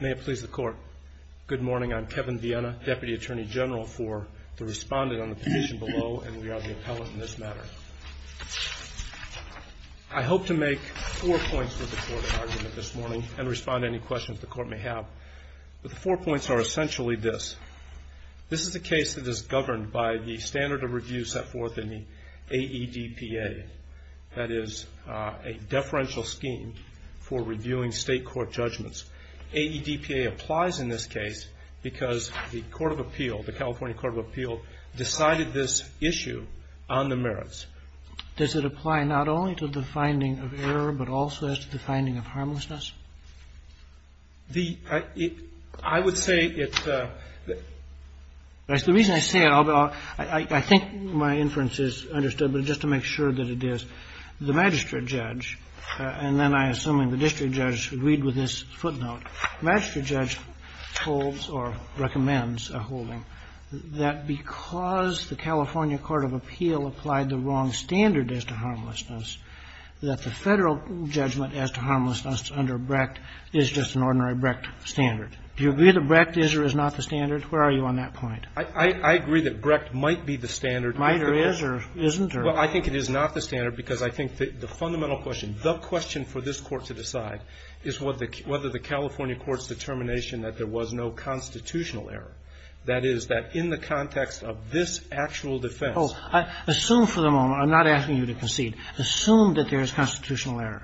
May it please the Court, good morning. I'm Kevin Viena, Deputy Attorney General for the respondent on the petition below, and we are the appellate in this matter. I hope to make four points for the Court of Argument this morning, and respond to any questions the Court may have. The four points are essentially this. This is a case that is governed by the standard of review set forth in the AEDPA. That is, a deferential scheme for reviewing state court judgments. AEDPA applies in this case because the Court of Appeal, the California Court of Appeal, decided this issue on the merits. Does it apply not only to the finding of error, but also to the finding of harmlessness? I would say it's the reason I say it, I think my inference is understood, but just to make sure that it is. The magistrate judge, and then I assume the district judge agreed with this footnote, the magistrate judge holds or recommends a holding that because the California Court of Appeal applied the wrong standard as to harmlessness, that the Federal judgment as to harmlessness under Brecht is just an ordinary Brecht standard. Do you agree that Brecht is or is not the standard? Where are you on that point? I agree that Brecht might be the standard. Might or is or isn't? Well, I think it is not the standard because I think the fundamental question, the question for this Court to decide is whether the California Court's determination that there was no constitutional error, that is, that in the context of this actual defense. Oh, assume for the moment. I'm not asking you to concede. Assume that there is constitutional error.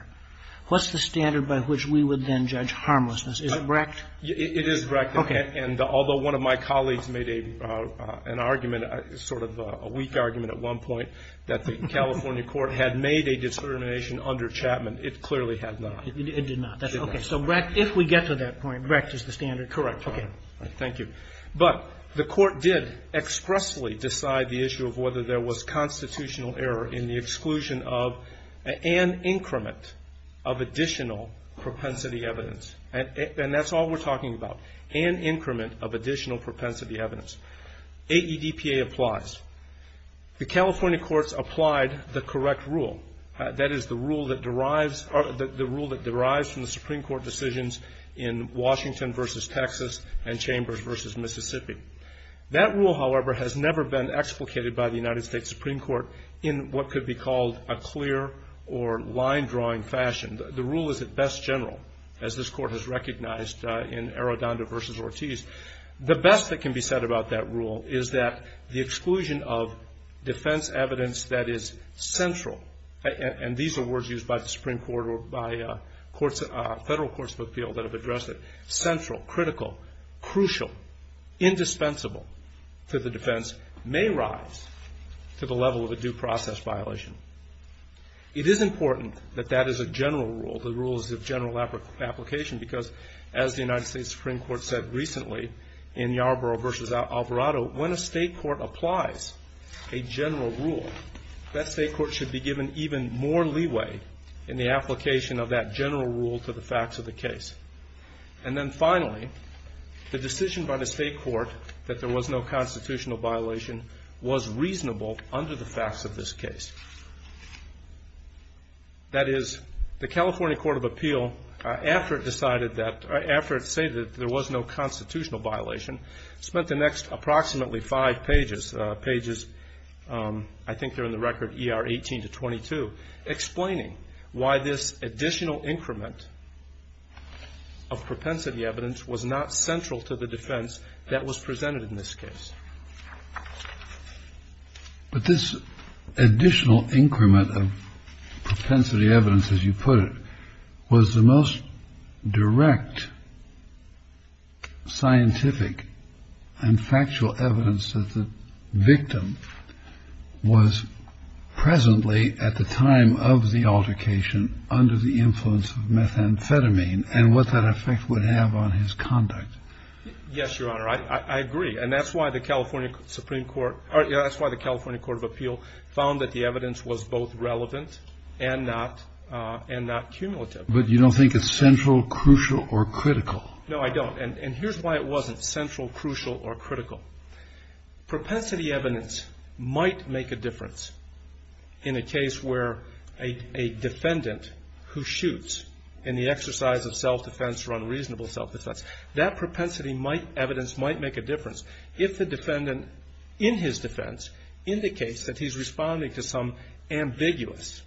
What's the standard by which we would then judge harmlessness? Is it Brecht? It is Brecht. Okay. And although one of my colleagues made a, an argument, sort of a weak argument at one point that the California Court had made a determination under Chapman, it clearly had not. It did not. Okay. So Brecht, if we get to that point, Brecht is the standard. Correct. Thank you. But the Court did expressly decide the issue of whether there was constitutional error in the exclusion of an increment of additional propensity evidence. And that's all we're talking about, an increment of additional propensity evidence. AEDPA applies. The California Courts applied the correct rule. That is, the rule that derives from the Supreme Court decisions in Washington versus Texas and Chambers versus Mississippi. That rule, however, has never been explicated by the United States Supreme Court in what could be called a clear or line-drawing fashion. The rule is at best general, as this Court has recognized in Arradondo versus Ortiz. The best that can be said about that rule is that the exclusion of defense evidence that is central, and these are words used by the Supreme Court or by courts, federal courts of appeal that have addressed it, central, critical, crucial, indispensable to the defense may rise to the level of a due process violation. It is important that that is a general rule. The rule is of general application because, as the United States Supreme Court said recently in Yarborough versus Alvarado, when a state court applies a general rule, that state court should be given even more leeway in the application of that general rule to the facts of the case. And then finally, the decision by the state court that there was no constitutional violation was reasonable under the facts of this case. That is, the California Court of Appeal, after it decided that, after it stated that there was no constitutional violation, spent the next approximately five pages, pages, I think they're in the record, ER 18 to 22, explaining why this additional increment of propensity evidence was not central to the defense that was presented in this case. But this additional increment of propensity evidence, as you put it, was the most direct scientific and factual evidence that the victim was presently, at the time of the altercation, under the influence of methamphetamine and what that effect would have on his conduct. Yes, Your Honor. I agree. And that's why the California Supreme Court, or that's why the California Court of Appeal found that the evidence was both relevant and not cumulative. But you don't think it's central, crucial, or critical. No, I don't. And here's why it wasn't central, crucial, or critical. Propensity evidence might make a difference in a case where a defendant who shoots in the exercise of self-defense or unreasonable self-defense, that propensity evidence might make a difference if the defendant in his defense indicates that he's responding to some ambiguous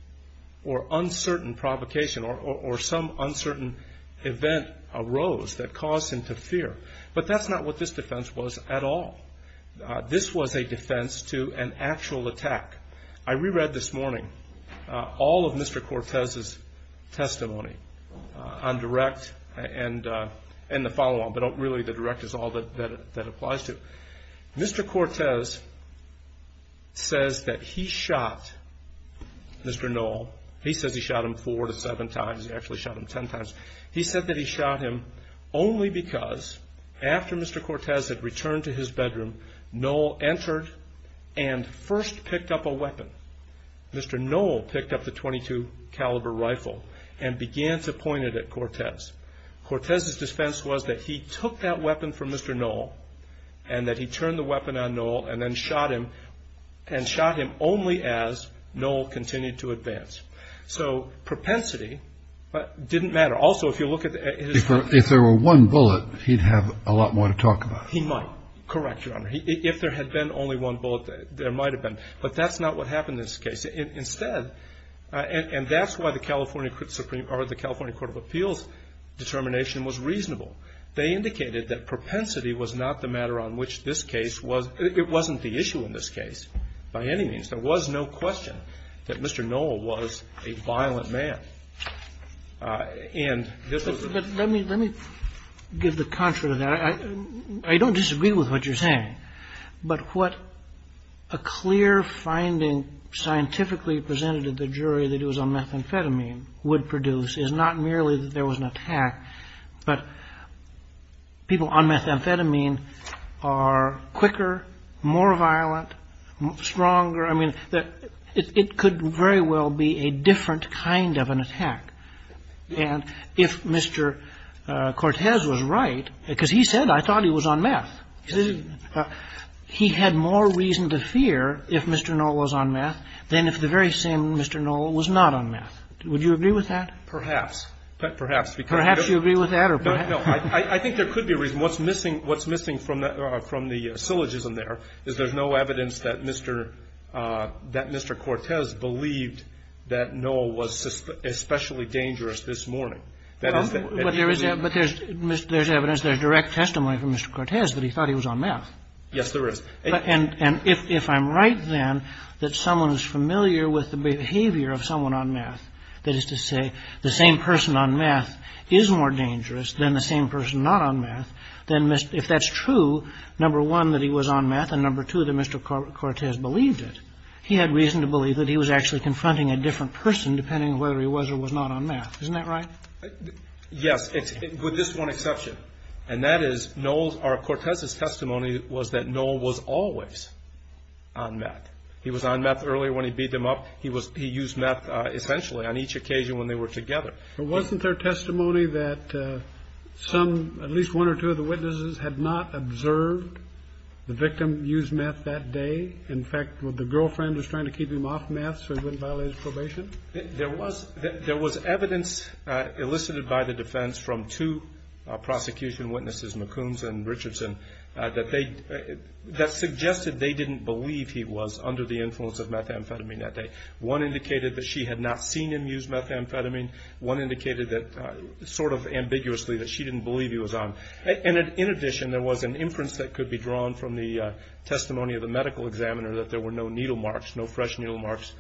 or uncertain provocation or some uncertain event arose that caused him to fear. But that's not what this defense was at all. This was a defense to an actual attack. I reread this morning all of Mr. Cortez's testimony on direct and the follow-on, but really the direct is all that applies to. Mr. Cortez says that he shot Mr. Knoll. He says he shot him four to seven times. He actually shot him ten times. He said that he shot him only because after Mr. Cortez had returned to his bedroom, Knoll entered and first picked up a weapon. Mr. Knoll picked up the .22 caliber rifle and began to point it at Cortez. Cortez's defense was that he took that weapon from Mr. Knoll and that he turned the weapon on Knoll and then shot him, and shot him only as Knoll continued to advance. So propensity didn't matter. Also, if you look at his- If there were one bullet, he'd have a lot more to talk about. He might. Correct, Your Honor. If there had been only one bullet, there might have been. But that's not what happened in this case. Instead, and that's why the California Supreme or the California Court of Appeals determination was reasonable. They indicated that propensity was not the matter on which this case was. It wasn't the issue in this case by any means. There was no question that Mr. Knoll was a violent man. And this was- Let me give the contrary to that. I don't disagree with what you're saying, but what a clear finding scientifically presented to the jury that it was on methamphetamine would produce is not merely that there was an attack, but people on methamphetamine are quicker, more violent, stronger. I mean, it could very well be a different kind of an attack. And if Mr. Cortez was right, because he said, I thought he was on meth, he had more reason to fear if Mr. Knoll was on meth than if the very same Mr. Knoll was not on meth. Would you agree with that? Perhaps. Perhaps. Perhaps you agree with that or perhaps- No. I think there could be a reason. What's missing from the syllogism there is there's no evidence that Mr. Cortez believed that Knoll was especially dangerous this morning. But there's evidence, there's direct testimony from Mr. Cortez that he thought he was on meth. Yes, there is. And if I'm right then that someone is familiar with the behavior of someone on meth, that is to say the same person on meth is more dangerous than the same person not on meth, then if that's true, number one, that he was on meth, and number two, that Mr. Cortez believed it. He had reason to believe that he was actually confronting a different person, depending on whether he was or was not on meth. Isn't that right? Yes, with this one exception, and that is Knoll's, or Cortez's testimony was that Knoll was always on meth. He was on meth earlier when he beat them up. He used meth essentially on each occasion when they were together. But wasn't there testimony that some, at least one or two of the witnesses, had not observed the victim use meth that day? In fact, was the girlfriend just trying to keep him off meth so he wouldn't violate his probation? There was evidence elicited by the defense from two prosecution witnesses, McCombs and Richardson, that suggested they didn't believe he was under the influence of methamphetamine that day. One indicated that she had not seen him use methamphetamine. One indicated sort of ambiguously that she didn't believe he was on. And in addition, there was an inference that could be drawn from the testimony of the medical examiner that there were no needle marks, no fresh needle marks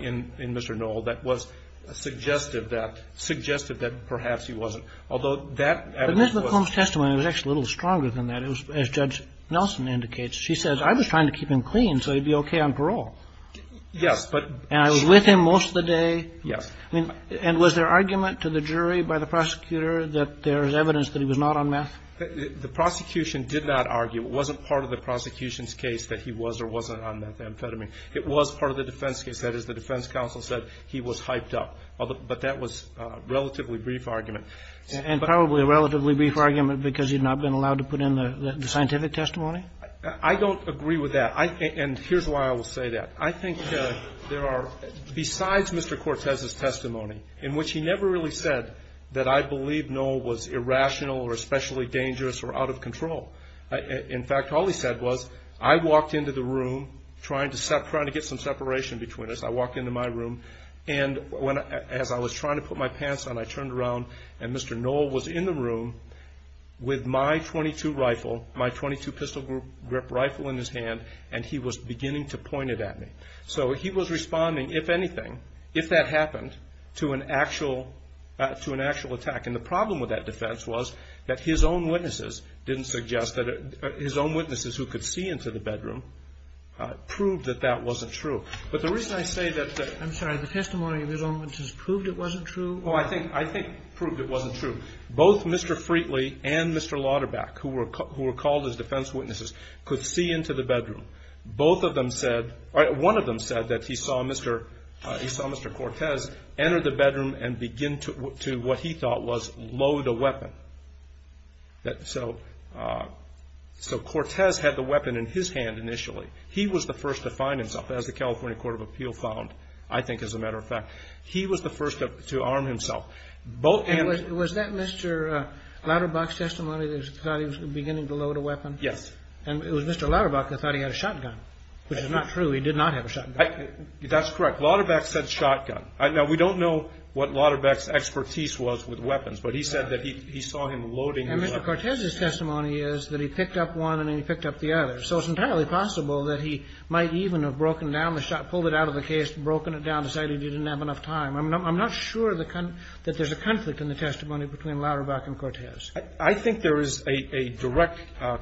in Mr. Knoll, that was suggestive that perhaps he wasn't, although that evidence was. But Ms. McCombs' testimony was actually a little stronger than that. It was, as Judge Nelson indicates, she says, I was trying to keep him clean so he'd be okay on parole. Yes, but. And I was with him most of the day. Yes. And was there argument to the jury by the prosecutor that there is evidence that he was not on meth? The prosecution did not argue. It wasn't part of the prosecution's case that he was or wasn't on methamphetamine. It was part of the defense case. That is, the defense counsel said he was hyped up. But that was a relatively brief argument. And probably a relatively brief argument because he had not been allowed to put in the scientific testimony? I don't agree with that. And here's why I will say that. I think there are, besides Mr. Cortez's testimony, in which he never really said that I believe Knoll was irrational or especially dangerous or out of control. In fact, all he said was, I walked into the room trying to get some separation between us. I walked into my room, and as I was trying to put my pants on, I turned around, and Mr. Knoll was in the room with my .22 rifle, my .22 pistol grip rifle in his hand, and he was beginning to point it at me. So he was responding, if anything, if that happened, to an actual attack. And the problem with that defense was that his own witnesses didn't suggest that it – his own witnesses who could see into the bedroom proved that that wasn't true. But the reason I say that the – I'm sorry. The testimony of his own witnesses proved it wasn't true? Oh, I think it proved it wasn't true. Both Mr. Freetley and Mr. Lauterbach, who were called as defense witnesses, could see into the bedroom. Both of them said – or one of them said that he saw Mr. – he saw Mr. Cortez enter the bedroom and begin to what he thought was load a weapon. So Cortez had the weapon in his hand initially. He was the first to find himself, as the California Court of Appeal found, I think, as a matter of fact. He was the first to arm himself. And was that Mr. Lauterbach's testimony that he thought he was beginning to load a weapon? Yes. And it was Mr. Lauterbach that thought he had a shotgun, which is not true. He did not have a shotgun. That's correct. Lauterbach said shotgun. Now, we don't know what Lauterbach's expertise was with weapons, but he said that he saw him loading the weapon. And Mr. Cortez's testimony is that he picked up one and then he picked up the other. So it's entirely possible that he might even have broken down the – pulled it out of the case, broken it down, decided he didn't have enough time. I'm not sure that there's a conflict in the testimony between Lauterbach and Cortez. I think there is a direct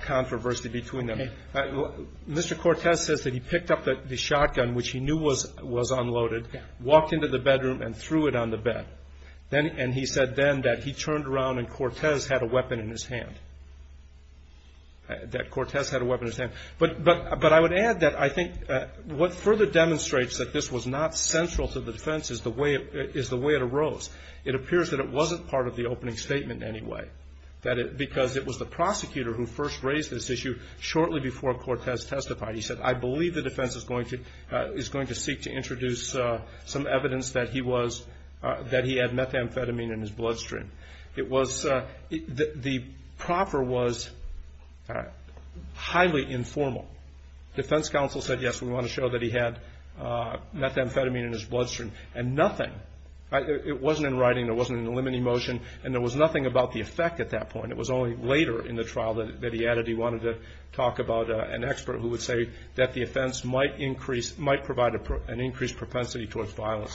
controversy between them. Mr. Cortez says that he picked up the shotgun, which he knew was unloaded, walked into the bedroom and threw it on the bed. And he said then that he turned around and Cortez had a weapon in his hand, that Cortez had a weapon in his hand. But I would add that I think what further demonstrates that this was not central to the defense is the way it arose. It appears that it wasn't part of the opening statement in any way, because it was the prosecutor who first raised this issue shortly before Cortez testified. He said, I believe the defense is going to seek to introduce some evidence that he was – that he had methamphetamine in his bloodstream. It was – the proffer was highly informal. Defense counsel said, yes, we want to show that he had methamphetamine in his bloodstream. And nothing – it wasn't in writing, there wasn't an eliminating motion, and there was nothing about the effect at that point. It was only later in the trial that he added he wanted to talk about an expert who would say that the offense might increase – might provide an increased propensity towards violence.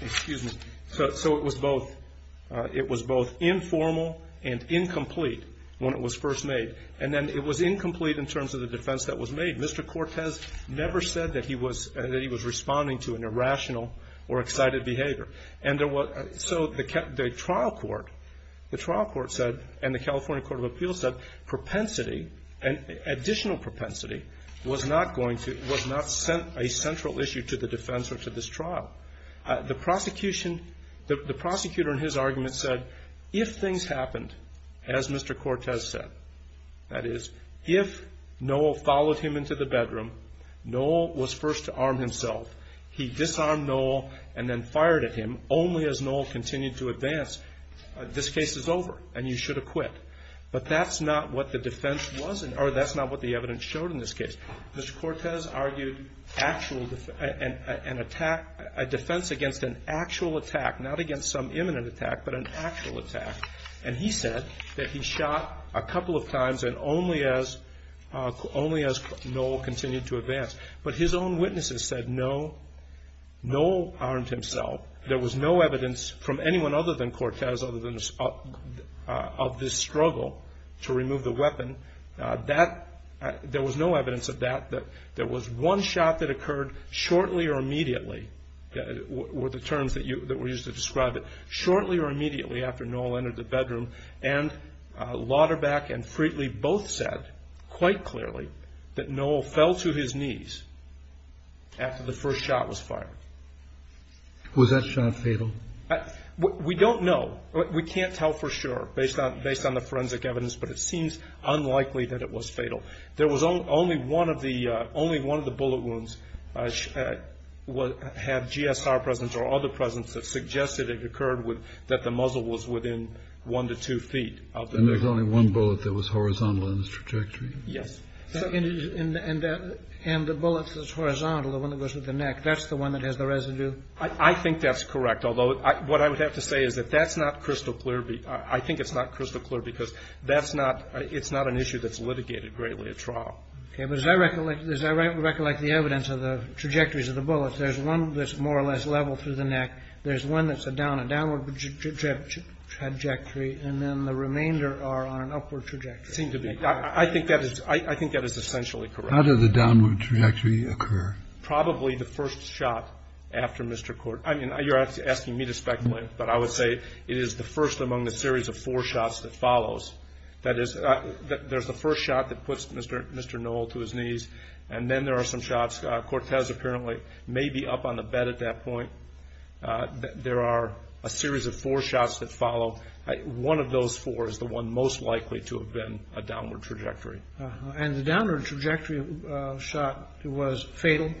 Excuse me. So it was both – it was both informal and incomplete when it was first made. And then it was incomplete in terms of the defense that was made. Mr. Cortez never said that he was – that he was responding to an irrational or excited behavior. And there was – so the trial court – the trial court said, and the California Court of Appeals said, propensity and additional propensity was not going to – was not a central issue to the defense or to this trial. The prosecution – the prosecutor in his argument said, if things happened, as Mr. Cortez said, that is, if Noel followed him into the bedroom, Noel was first to arm himself. He disarmed Noel and then fired at him only as Noel continued to advance. This case is over, and you should have quit. But that's not what the defense was – or that's not what the evidence showed in this case. Mr. Cortez argued actual – an attack – a defense against an actual attack, not against some imminent attack, but an actual attack. And he said that he shot a couple of times and only as – only as Noel continued to advance. But his own witnesses said, no, Noel armed himself. There was no evidence from anyone other than Cortez, other than – of this struggle to remove the weapon. That – there was no evidence of that. There was one shot that occurred shortly or immediately – were the terms that you – that were used to describe it. Shortly or immediately after Noel entered the bedroom. And Lauterbach and Friedli both said quite clearly that Noel fell to his knees after the first shot was fired. Was that shot fatal? We don't know. We can't tell for sure based on – based on the forensic evidence. But it seems unlikely that it was fatal. There was only one of the – only one of the bullet wounds had GSR presence or other presence that suggested it occurred with – that the muzzle was within one to two feet of the wound. And there's only one bullet that was horizontal in its trajectory? Yes. And that – and the bullet that's horizontal, the one that goes with the neck, that's the one that has the residue? I think that's correct. Although what I would have to say is that that's not crystal clear. I think it's not crystal clear because that's not – it's not an issue that's litigated greatly at trial. Okay. But as I recollect – as I recollect the evidence of the trajectories of the bullets, there's one that's more or less level through the neck. There's one that's a down – a downward trajectory. And then the remainder are on an upward trajectory. They seem to be. I think that is – I think that is essentially correct. How did the downward trajectory occur? Probably the first shot after Mr. Cortez – I mean, you're asking me to speculate, but I would say it is the first among the series of four shots that follows. That is, there's the first shot that puts Mr. Noel to his knees, and then there are some shots. Cortez apparently may be up on the bed at that point. There are a series of four shots that follow. One of those four is the one most likely to have been a downward trajectory. And the downward trajectory shot was fatal?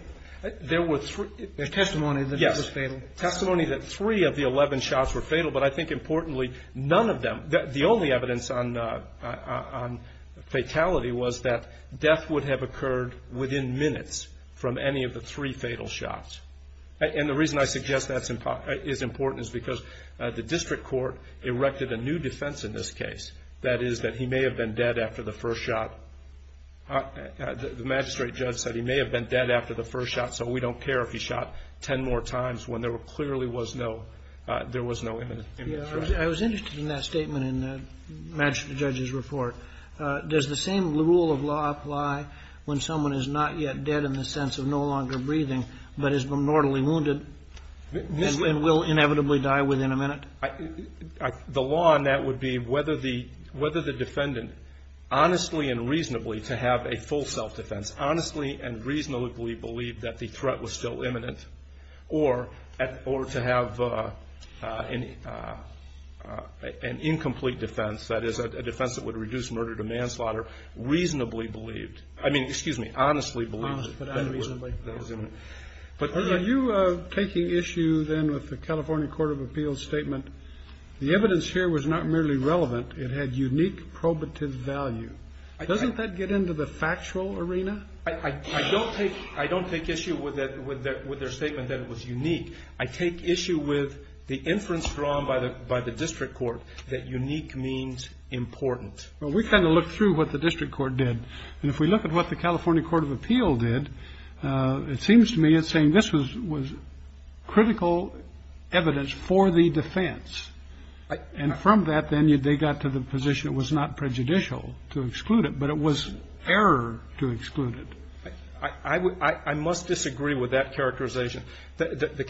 There were three. There's testimony that it was fatal. Yes. Testimony that three of the 11 shots were fatal, but I think importantly, none of them – the only evidence on fatality was that death would have occurred within minutes from any of the three fatal shots. And the reason I suggest that is important is because the district court erected a new defense in this case. That is that he may have been dead after the first shot. The magistrate judge said he may have been dead after the first shot, so we don't care if he shot 10 more times when there clearly was no imminent threat. I was interested in that statement in the magistrate judge's report. Does the same rule of law apply when someone is not yet dead in the sense of no longer breathing but is mortally wounded and will inevitably die within a minute? The law on that would be whether the defendant honestly and reasonably, to have a full self-defense, honestly and reasonably believed that the threat was still imminent or to have an incomplete defense, that is, a defense that would reduce murder to manslaughter, I mean, excuse me, honestly believed it. Are you taking issue then with the California Court of Appeals' statement, the evidence here was not merely relevant. It had unique probative value. Doesn't that get into the factual arena? I don't take issue with their statement that it was unique. I take issue with the inference drawn by the district court that unique means important. Well, we kind of looked through what the district court did, and if we look at what the California Court of Appeals did, it seems to me it's saying this was critical evidence for the defense, and from that then they got to the position it was not prejudicial to exclude it, but it was error to exclude it. I must disagree with that characterization. The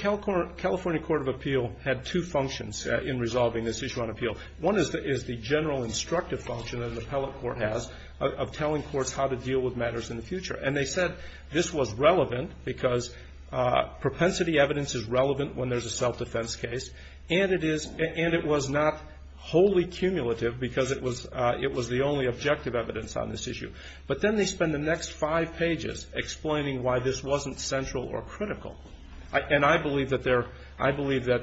California Court of Appeals had two functions in resolving this issue on appeal. One is the general instructive function that an appellate court has of telling courts how to deal with matters in the future, and they said this was relevant because propensity evidence is relevant when there's a self-defense case, and it was not wholly cumulative because it was the only objective evidence on this issue. But then they spend the next five pages explaining why this wasn't central or critical, and I believe that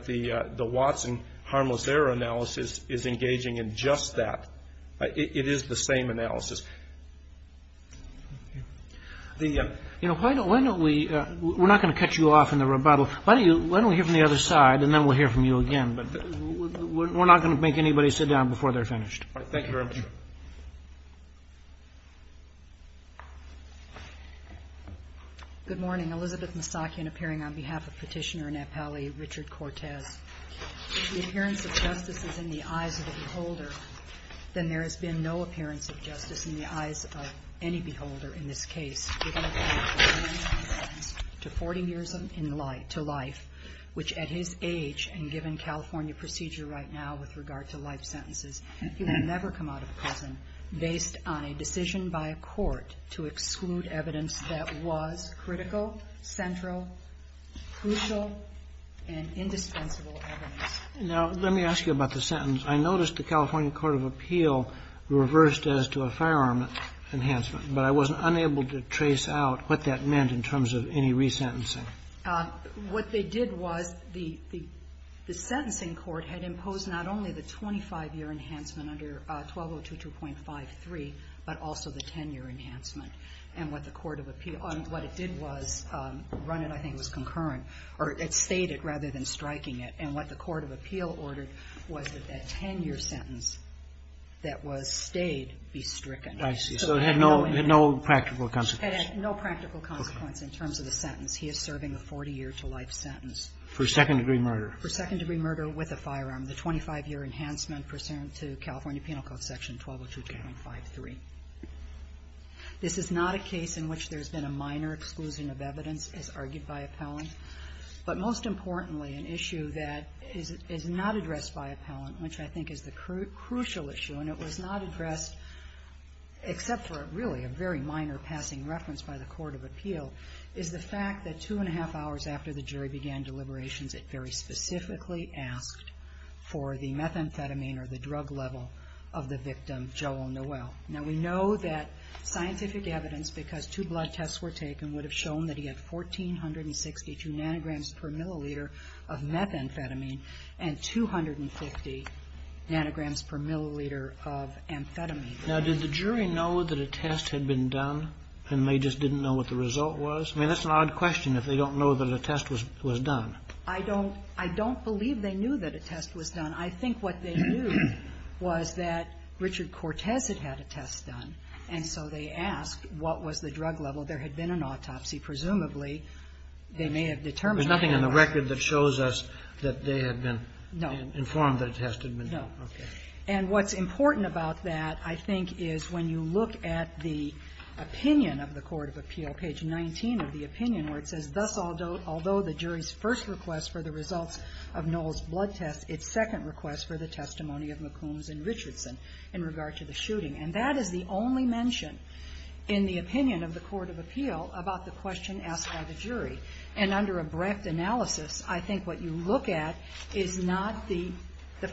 the Watson harmless error analysis is engaging in just that. It is the same analysis. You know, why don't we ñ we're not going to cut you off in the rebuttal. Why don't we hear from the other side, and then we'll hear from you again, but we're not going to make anybody sit down before they're finished. Thank you very much. Thank you. Good morning. Elizabeth Moustakian, appearing on behalf of Petitioner and Appellee Richard Cortez. If the appearance of justice is in the eyes of a beholder, then there has been no appearance of justice in the eyes of any beholder in this case, given that he has been sentenced to 40 years in life, which at his age and given California procedure right now with regard to life sentences, he will never come out of prison based on a decision by a court to exclude evidence that was critical, central, crucial, and indispensable evidence. Now, let me ask you about the sentence. I noticed the California court of appeal reversed as to a firearm enhancement, but I wasn't unable to trace out what that meant in terms of any resentencing. What they did was the sentencing court had imposed not only the 25-year enhancement under 1202.53, but also the 10-year enhancement. And what the court of appeal or what it did was run it, I think it was concurrent, or it stayed it rather than striking it. And what the court of appeal ordered was that that 10-year sentence that was stayed be stricken. I see. So it had no practical consequence. It had no practical consequence in terms of the sentence. He is serving a 40-year-to-life sentence. For second-degree murder. For second-degree murder with a firearm. The 25-year enhancement pursuant to California penal code section 1202.53. This is not a case in which there's been a minor exclusion of evidence, as argued by appellant. But most importantly, an issue that is not addressed by appellant, which I think is the crucial issue, and it was not addressed except for really a very minor passing reference by the court of appeal, is the fact that two-and-a-half hours after the jury began deliberations, it very specifically asked for the methamphetamine or the drug level of the victim, Joel Noel. Now, we know that scientific evidence, because two blood tests were taken, would have shown that he had 1,462 nanograms per milliliter of methamphetamine and 250 nanograms per milliliter of amphetamine. Now, did the jury know that a test had been done, and they just didn't know what the result was? I mean, that's an odd question, if they don't know that a test was done. I don't believe they knew that a test was done. I think what they knew was that Richard Cortez had had a test done. And so they asked what was the drug level. There had been an autopsy. Presumably, they may have determined that. There's nothing in the record that shows us that they had been informed that a test had been done. Okay. And what's important about that, I think, is when you look at the opinion of the Court of Appeal, page 19 of the opinion, where it says, Thus, although the jury's first request for the results of Noel's blood test, its second request for the testimony of McCombs and Richardson in regard to the shooting. And that is the only mention in the opinion of the Court of Appeal about the question asked by the jury. And under a breadth analysis, I think what you look at is not the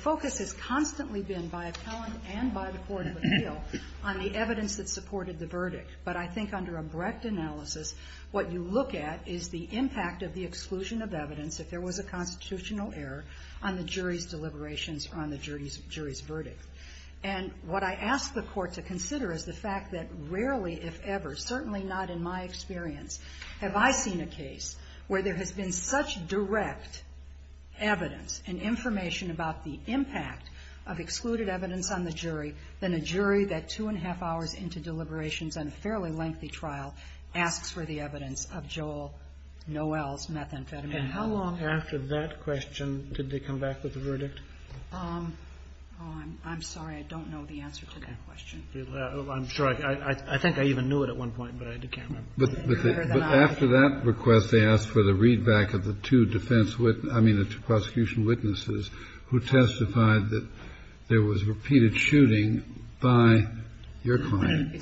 focus is constantly been by appellant and by the Court of Appeal on the evidence that supported the verdict. But I think under a breadth analysis, what you look at is the impact of the exclusion of evidence, if there was a constitutional error, on the jury's deliberations or on the jury's verdict. And what I ask the Court to consider is the fact that rarely, if ever, certainly not in my experience, have I seen a case where there has been such direct evidence and information about the impact of excluded evidence on the jury than a jury that two-and-a-half hours into deliberations on a fairly lengthy trial asks for the evidence of Joel Noel's methamphetamine. Kennedy. And how long after that question did they come back with a verdict? I'm sorry. I don't know the answer to that question. I'm sure. I think I even knew it at one point, but I can't remember. But after that request, they asked for the readback of the two defense witnesses – I mean, the two prosecution witnesses who testified that there was repeated shooting by your client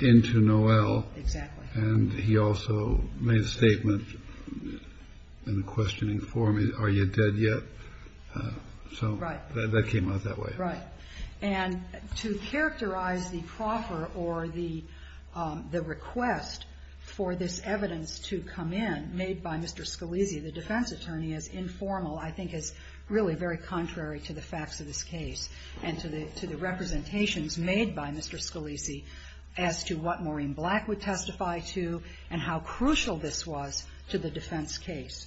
into Noel. Exactly. And he also made a statement in the questioning forum, are you dead yet? So that came out that way. Right. And to characterize the proffer or the request for this evidence to come in, made by Mr. Scalise, the defense attorney, as informal, I think is really very contrary to the facts of this case and to the representations made by Mr. Scalise as to what Maureen Black would testify to and how crucial this was to the defense case.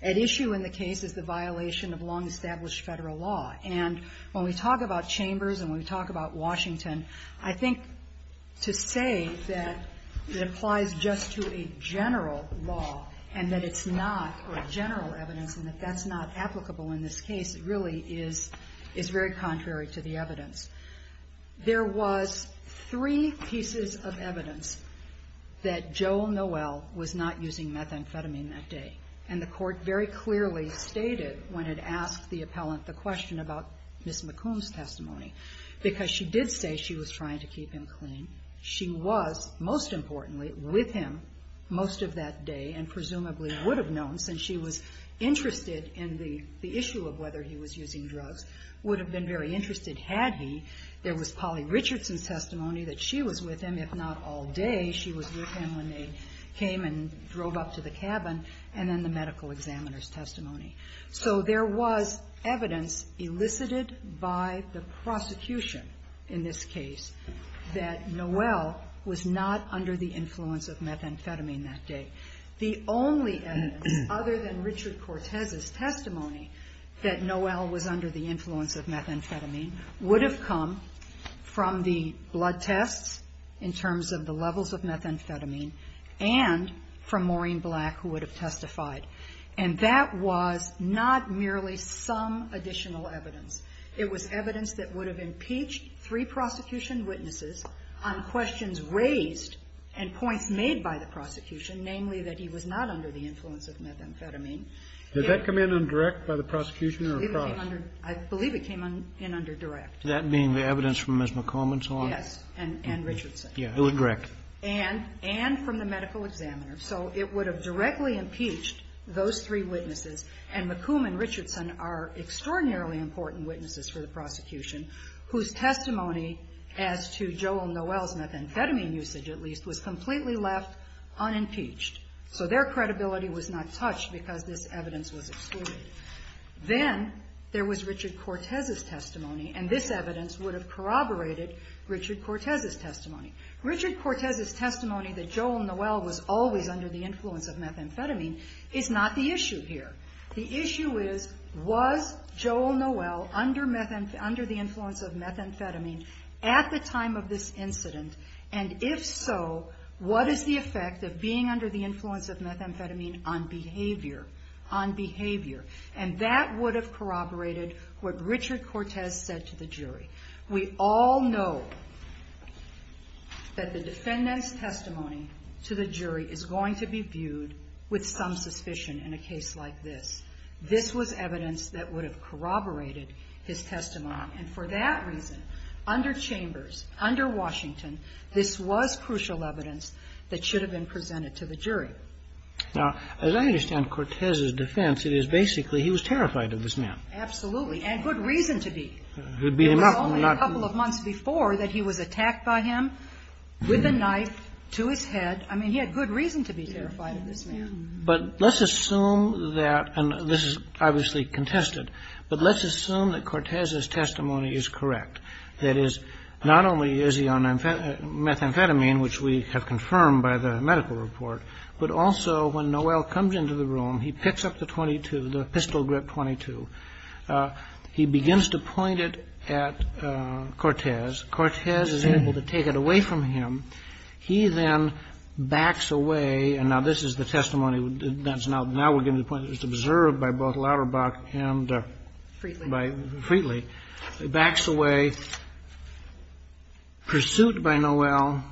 At issue in the case is the violation of long-established federal law. And when we talk about chambers and when we talk about Washington, I think to say that it applies just to a general law and that it's not a general evidence and that that's not applicable in this case really is very contrary to the evidence. There was three pieces of evidence that Joel Noel was not using methamphetamine that day, and the court very clearly stated when it asked the appellant the question about Ms. McComb's testimony, because she did say she was trying to keep him clean. She was, most importantly, with him most of that day and presumably would have known since she was interested in the issue of whether he was using drugs, would have been very interested had he. There was Polly Richardson's testimony that she was with him, if not all day, she was with him when they came and drove up to the cabin, and then the medical examiner's testimony. So there was evidence elicited by the prosecution in this case that Noel was not under the influence of methamphetamine that day. The only evidence other than Richard Cortez's testimony that Noel was under the influence of methamphetamine would have come from the blood tests in terms of the levels of methamphetamine and from Maureen Black, who would have testified. And that was not merely some additional evidence. It was evidence that would have impeached three prosecution witnesses on questions raised and points made by the prosecution, namely that he was not under the influence of methamphetamine. Did that come in indirect by the prosecution or across? I believe it came in under direct. That being the evidence from Ms. McComb and so on? Yes. And Richardson. Indirect. And from the medical examiner. So it would have directly impeached those three witnesses, and McComb and Richardson are extraordinarily important witnesses for the prosecution whose testimony as to Joel Noel's methamphetamine usage, at least, was completely left unimpeached. So their credibility was not touched because this evidence was excluded. Then there was Richard Cortez's testimony, and this evidence would have corroborated Richard Cortez's testimony. Richard Cortez's testimony that Joel Noel was always under the influence of methamphetamine is not the issue here. The issue is, was Joel Noel under the influence of methamphetamine at the time of this behavior? And that would have corroborated what Richard Cortez said to the jury. We all know that the defendant's testimony to the jury is going to be viewed with some suspicion in a case like this. This was evidence that would have corroborated his testimony, and for that reason, under Chambers, under Washington, this was crucial evidence that should have been presented to the jury. Now, as I understand Cortez's defense, it is basically he was terrified of this man. Absolutely. And good reason to be. He would beat him up. It was only a couple of months before that he was attacked by him with a knife to his head. I mean, he had good reason to be terrified of this man. But let's assume that, and this is obviously contested, but let's assume that Cortez's testimony is correct, that is, not only is he on methamphetamine, which we have confirmed by the medical report, but also when Noel comes into the room, he picks up the .22, the pistol-grip .22. He begins to point it at Cortez. Cortez is able to take it away from him. He then backs away. And now this is the testimony that's now we're getting to the point that's observed by both Lauterbach and by Freetley. He backs away, pursued by Noel,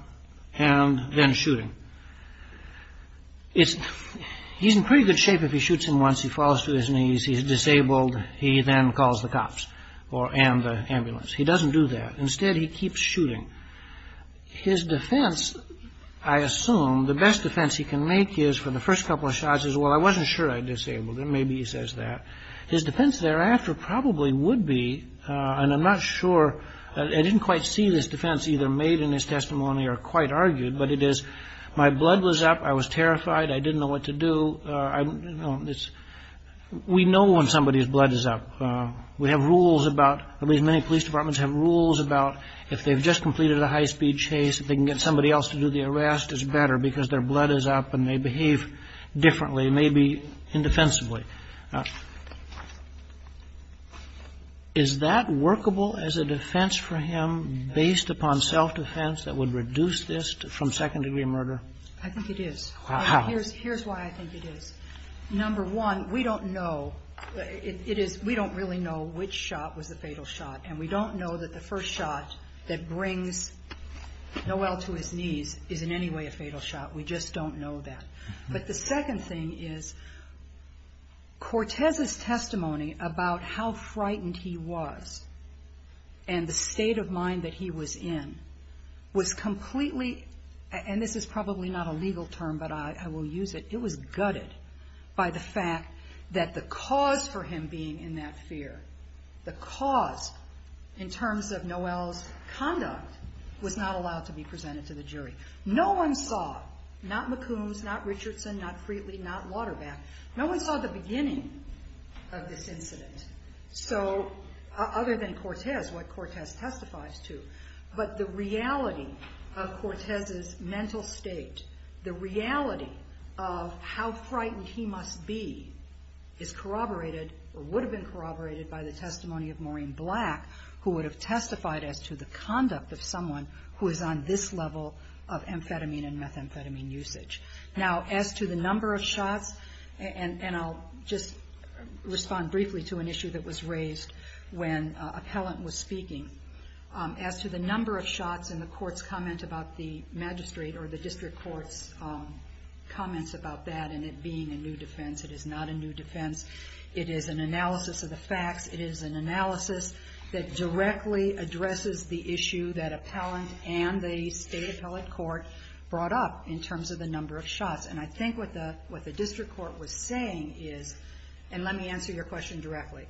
and then shooting. He's in pretty good shape if he shoots him once. He falls to his knees. He's disabled. He then calls the cops and the ambulance. He doesn't do that. Instead, he keeps shooting. His defense, I assume, the best defense he can make is, for the first couple of shots, is, well, I wasn't sure I disabled him. Maybe he says that. His defense thereafter probably would be, and I'm not sure, I didn't quite see this defense either made in his testimony or quite argued, but it is, my blood was up. I was terrified. I didn't know what to do. We know when somebody's blood is up. We have rules about, at least many police departments have rules about, if they've just completed a high-speed chase, if they can get somebody else to do the arrest, it's better because their blood is up and they behave differently, maybe indefensibly. Now, is that workable as a defense for him based upon self-defense that would reduce this from second-degree murder? I think it is. Here's why I think it is. Number one, we don't know. We don't really know which shot was the fatal shot, and we don't know that the first shot that brings Noel to his knees is in any way a fatal shot. We just don't know that. But the second thing is, Cortez's testimony about how frightened he was and the state of mind that he was in was completely, and this is probably not a legal term, but I will use it, it was gutted by the fact that the cause for him being in that fear, the cause in terms of Noel's conduct was not allowed to be presented to the jury. No one saw, not McCombs, not Richardson, not Frietly, not Waterbath, no one saw the beginning of this incident other than Cortez, what Cortez testifies to. But the reality of Cortez's mental state, the reality of how frightened he must be, is corroborated or would have been corroborated by the testimony of Maureen Black, who would have testified as to the conduct of someone who is on this level of amphetamine and methamphetamine usage. Now, as to the number of shots, and I'll just respond briefly to an issue that was raised when an appellant was speaking, as to the number of shots in the court's comment about the magistrate or the district court's comments about that and it being a new defense, it is not a new defense, it is an analysis of the facts, it is an analysis that directly addresses the issue that appellant and the state appellate court brought up in terms of the number of shots. And I think what the district court was saying is, and let me answer your question directly,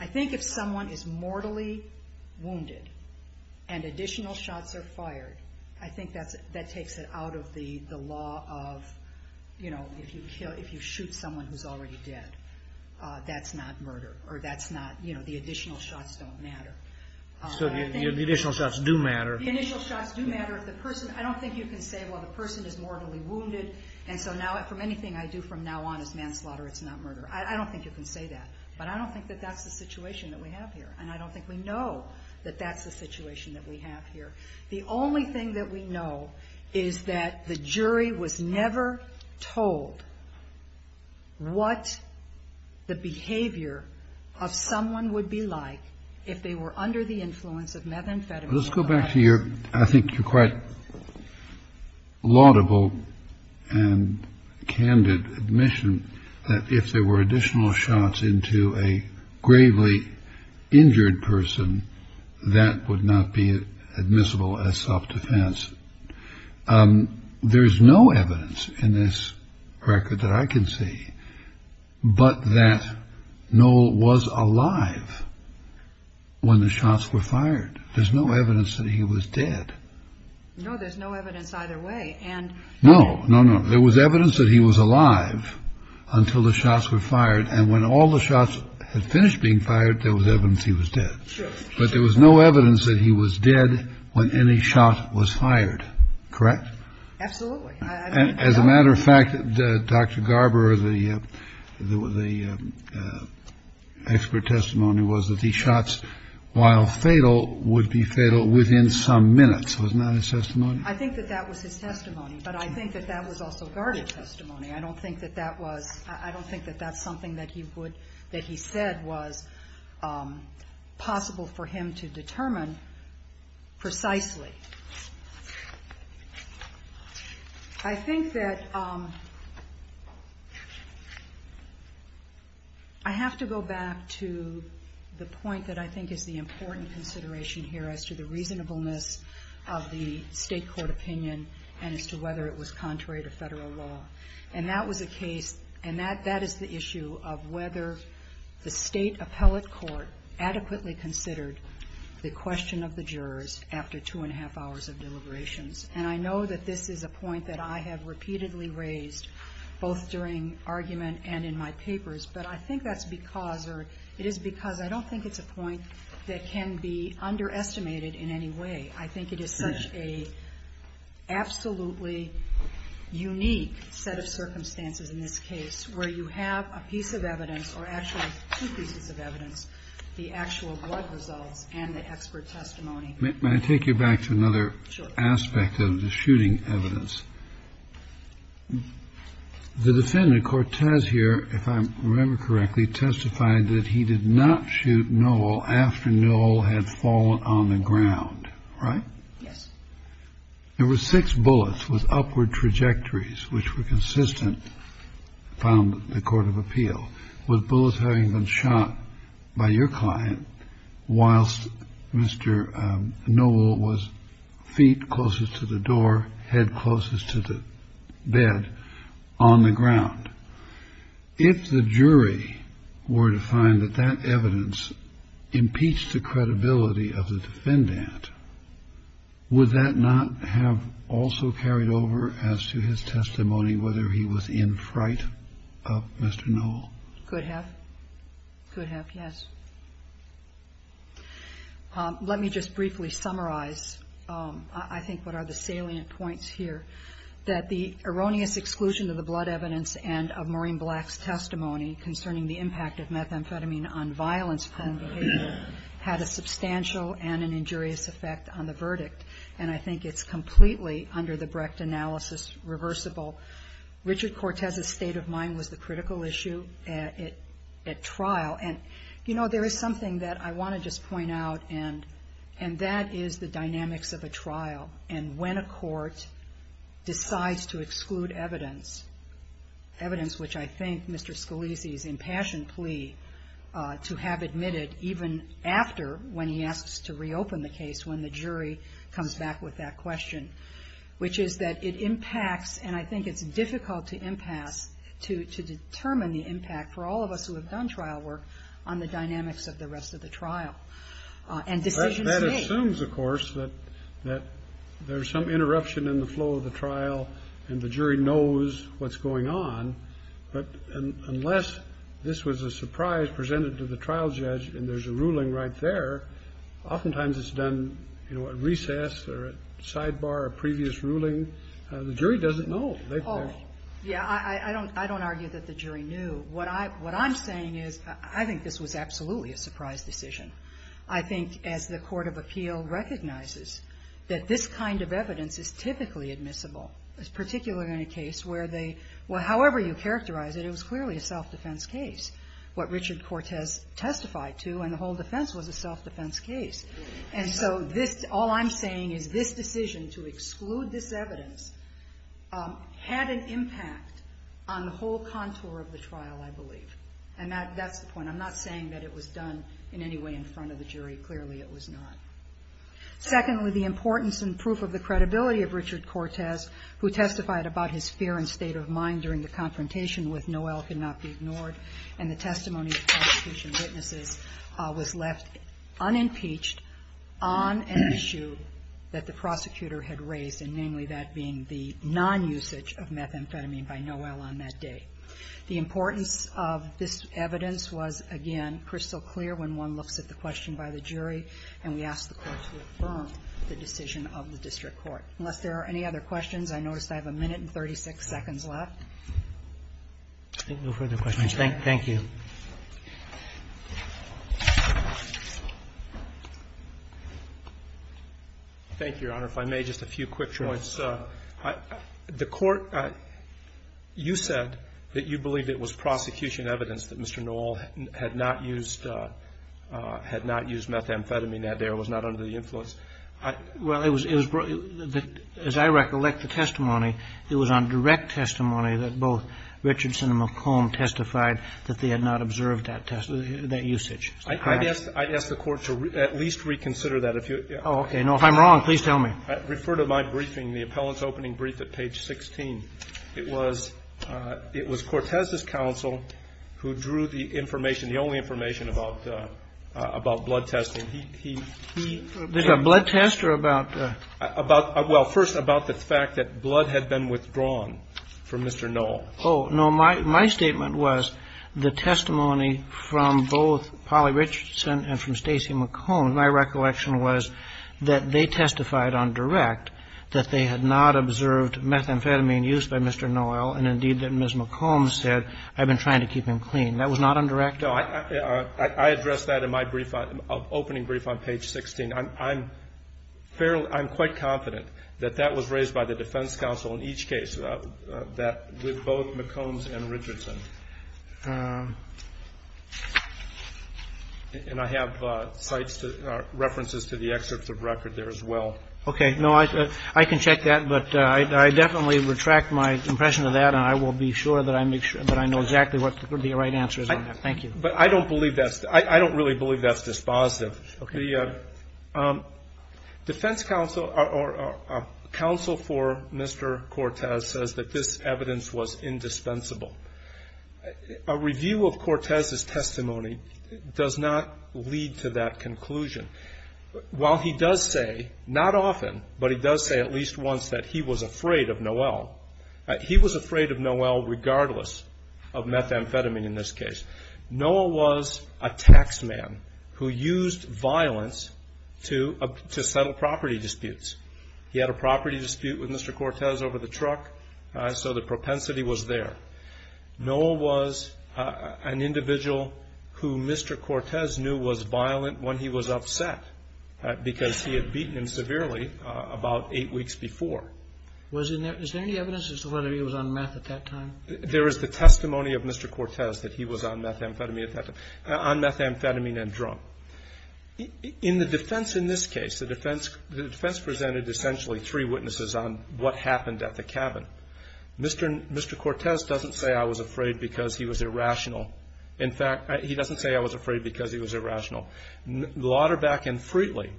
I think if someone is mortally wounded and additional shots are fired, I think that takes it out of the law of, you know, if you shoot someone who's already dead, that's not murder, or that's not, you know, the additional shots don't matter. So the additional shots do matter. The initial shots do matter. I don't think you can say, well, the person is mortally wounded, and so from anything I do from now on is manslaughter, it's not murder. I don't think you can say that. But I don't think that that's the situation that we have here, and I don't think we know that that's the situation that we have here. The only thing that we know is that the jury was never told what the behavior of someone would be like if they were under the influence of methamphetamine. Kennedy. Let's go back to your, I think your quite laudable and candid admission that if there were additional shots into a gravely injured person, that would not be admissible as self-defense. There's no evidence in this record that I can see, but that Noel was alive when the shots were fired. There's no evidence that he was dead. No, there's no evidence either way. And no, no, no. There was evidence that he was alive until the shots were fired. And when all the shots had finished being fired, there was evidence he was dead. But there was no evidence that he was dead when any shot was fired. Correct? Absolutely. As a matter of fact, Dr. Garber, the expert testimony was that the shots, while fatal, would be fatal within some minutes. Wasn't that his testimony? I think that that was his testimony. But I think that that was also guarded testimony. I don't think that that was, I don't think that that's something that he said was possible for him to determine precisely. I think that I have to go back to the point that I think is the important consideration here as to the reasonableness of the State court opinion and as to whether it was contrary to Federal law. And that was a case, and that is the issue of whether the State appellate court adequately considered the question of the jurors after two and a half hours of deliberations. And I know that this is a point that I have repeatedly raised, both during argument and in my papers, but I think that's because, or it is because I don't think it's a point that can be underestimated in any way. I think it is such a absolutely unique set of circumstances in this case where you have a piece of evidence, or actually two pieces of evidence, the actual blood results and the expert testimony. May I take you back to another aspect of the shooting evidence? Sure. The defendant, Cortez here, if I remember correctly, testified that he did not shoot Nowell after Nowell had fallen on the ground. Right? Yes. There were six bullets with upward trajectories which were consistent, found in the court of appeal, with bullets having been shot by your client whilst Mr. Nowell was feet closest to the door, head closest to the bed, on the ground. If the jury were to find that that evidence impeached the credibility of the defendant, would that not have also carried over as to his testimony, whether he was in fright of Mr. Nowell? Could have. Could have, yes. Let me just briefly summarize, I think, what are the salient points here, that the erroneous exclusion of the blood evidence and of Maureen Black's testimony concerning the impact of methamphetamine on violence-prone behavior had a substantial and an injurious effect on the verdict. And I think it's completely, under the Brecht analysis, reversible. Richard Cortez's state of mind was the critical issue at trial. And, you know, there is something that I want to just point out, and that is the dynamics of a trial. And when a court decides to exclude evidence, evidence which I think Mr. Scalise's impassioned plea to have admitted even after, when he asks to reopen the case, when the jury comes back with that question, which is that it impacts, and I think it's difficult to impasse, to determine the impact for all of us who have done trial work on the dynamics of the rest of the trial. And decisions made. That assumes, of course, that there's some interruption in the flow of the trial and the jury knows what's going on. But unless this was a surprise presented to the trial judge and there's a ruling right there, oftentimes it's done, you know, at recess or at sidebar, a previous ruling. The jury doesn't know. Oh, yeah. I don't argue that the jury knew. What I'm saying is I think this was absolutely a surprise decision. I think as the court of appeal recognizes that this kind of evidence is typically admissible, particularly in a case where they, however you characterize it, it was clearly a self-defense case. What Richard Cortez testified to in the whole defense was a self-defense case. And so this, all I'm saying is this decision to exclude this evidence had an impact on the whole contour of the trial I believe. And that's the point. I'm not saying that it was done in any way in front of the jury. Clearly it was not. Secondly, the importance and proof of the credibility of Richard Cortez, who testified about his fear and state of mind during the confrontation with Noel cannot be ignored, and the testimony of prosecution witnesses was left unimpeached on an issue that the prosecutor had raised, and namely that being the non-usage of methamphetamine by Noel on that day. The importance of this evidence was, again, crystal clear when one looks at the question by the jury, and we ask the Court to affirm the decision of the district court. Unless there are any other questions, I notice I have a minute and 36 seconds left. Roberts. I think no further questions. Thank you. Thank you, Your Honor. If I may, just a few quick points. The Court, you said that you believed it was prosecution evidence that Mr. Noel had not used methamphetamine that day or was not under the influence. Well, it was, as I recollect the testimony, it was on direct testimony that both Richardson and McComb testified that they had not observed that usage. I'd ask the Court to at least reconsider that. Oh, okay. If I'm wrong, please tell me. I refer to my briefing, the appellant's opening brief at page 16. It was Cortez's counsel who drew the information, the only information, about blood testing. There's a blood test or about? Well, first about the fact that blood had been withdrawn from Mr. Noel. Oh, no. My statement was the testimony from both Polly Richardson and from Stacy McComb, my recollection was that they testified on direct that they had not observed methamphetamine used by Mr. Noel and, indeed, that Ms. McComb said, I've been trying to keep him clean. That was not on direct? No. I addressed that in my brief, opening brief on page 16. I'm fairly, I'm quite confident that that was raised by the defense counsel in each case, that with both McCombs and Richardson. And I have sites, references to the excerpts of record there as well. Okay. No, I can check that, but I definitely retract my impression of that, and I will be sure that I make sure that I know exactly what the right answer is on that. Thank you. But I don't believe that's, I don't really believe that's dispositive. Okay. The defense counsel or counsel for Mr. Cortez says that this evidence was indispensable. A review of Cortez's testimony does not lead to that conclusion. While he does say, not often, but he does say at least once that he was afraid of Noel, he was afraid of Noel regardless of methamphetamine in this case. Noel was a tax man who used violence to settle property disputes. He had a property dispute with Mr. Cortez over the truck, so the propensity was there. Noel was an individual who Mr. Cortez knew was violent when he was upset because he had beaten him severely about eight weeks before. Was there any evidence as to whether he was on meth at that time? There is the testimony of Mr. Cortez that he was on methamphetamine at that time, on methamphetamine and drug. In the defense in this case, the defense presented essentially three witnesses on what happened at the cabin. Mr. Cortez doesn't say, I was afraid because he was irrational. In fact, he doesn't say, I was afraid because he was irrational. Lauterbach and Freetley,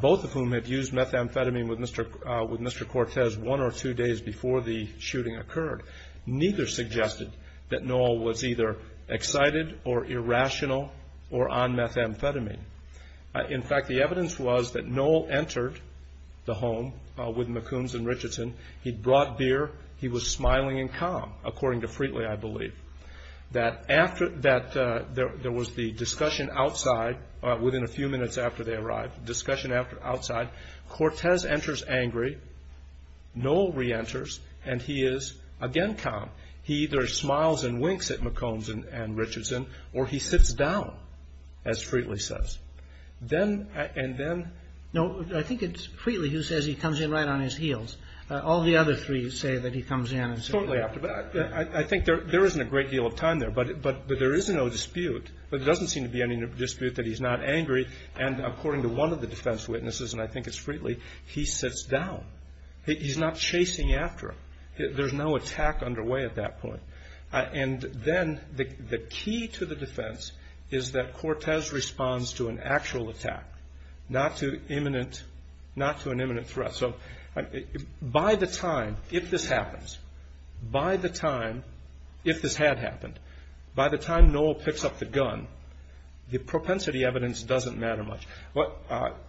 both of whom had used methamphetamine with Mr. Cortez one or two days before the shooting occurred, neither suggested that Noel was either excited or irrational or on methamphetamine. In fact, the evidence was that Noel entered the home with McCombs and Richardson. He brought beer. He was smiling and calm, according to Freetley, I believe. That there was the discussion outside, within a few minutes after they arrived, Cortez enters angry. Noel reenters, and he is again calm. He either smiles and winks at McCombs and Richardson, or he sits down, as Freetley says. And then no, I think it's Freetley who says he comes in right on his heels. All the other three say that he comes in and sits down. I think there isn't a great deal of time there, but there is no dispute. There doesn't seem to be any dispute that he's not angry. And according to one of the defense witnesses, and I think it's Freetley, he sits down. He's not chasing after him. There's no attack underway at that point. And then the key to the defense is that Cortez responds to an actual attack, not to an imminent threat. So by the time, if this happens, by the time, if this had happened, by the time Noel picks up the gun, the propensity evidence doesn't matter much.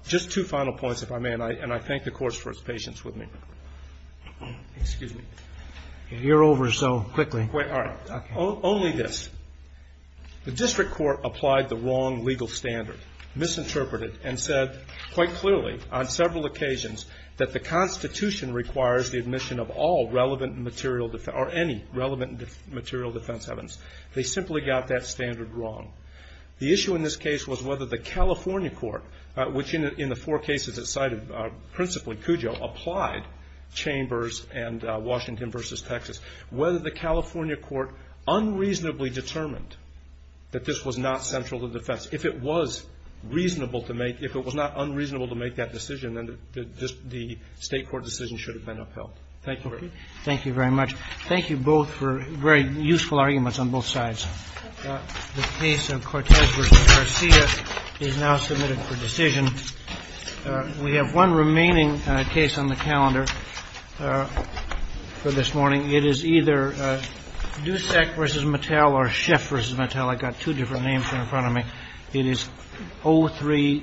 Just two final points, if I may, and I thank the Court for its patience with me. Excuse me. You're over so quickly. All right. Only this. The district court applied the wrong legal standard, misinterpreted and said quite clearly on several occasions that the Constitution requires the admission of all relevant material defense or any relevant material defense evidence. They simply got that standard wrong. The issue in this case was whether the California court, which in the four cases that cited principally Cujo, applied Chambers and Washington v. Texas, whether the California court unreasonably determined that this was not central to defense. If it was reasonable to make, if it was not unreasonable to make that decision, then the state court decision should have been upheld. Thank you very much. Thank you very much. Thank you both for very useful arguments on both sides. The case of Cortez v. Garcia is now submitted for decision. We have one remaining case on the calendar for this morning. It is either Dusek v. Mattel or Schiff v. Mattel. I've got two different names in front of me. It is 0-3-0.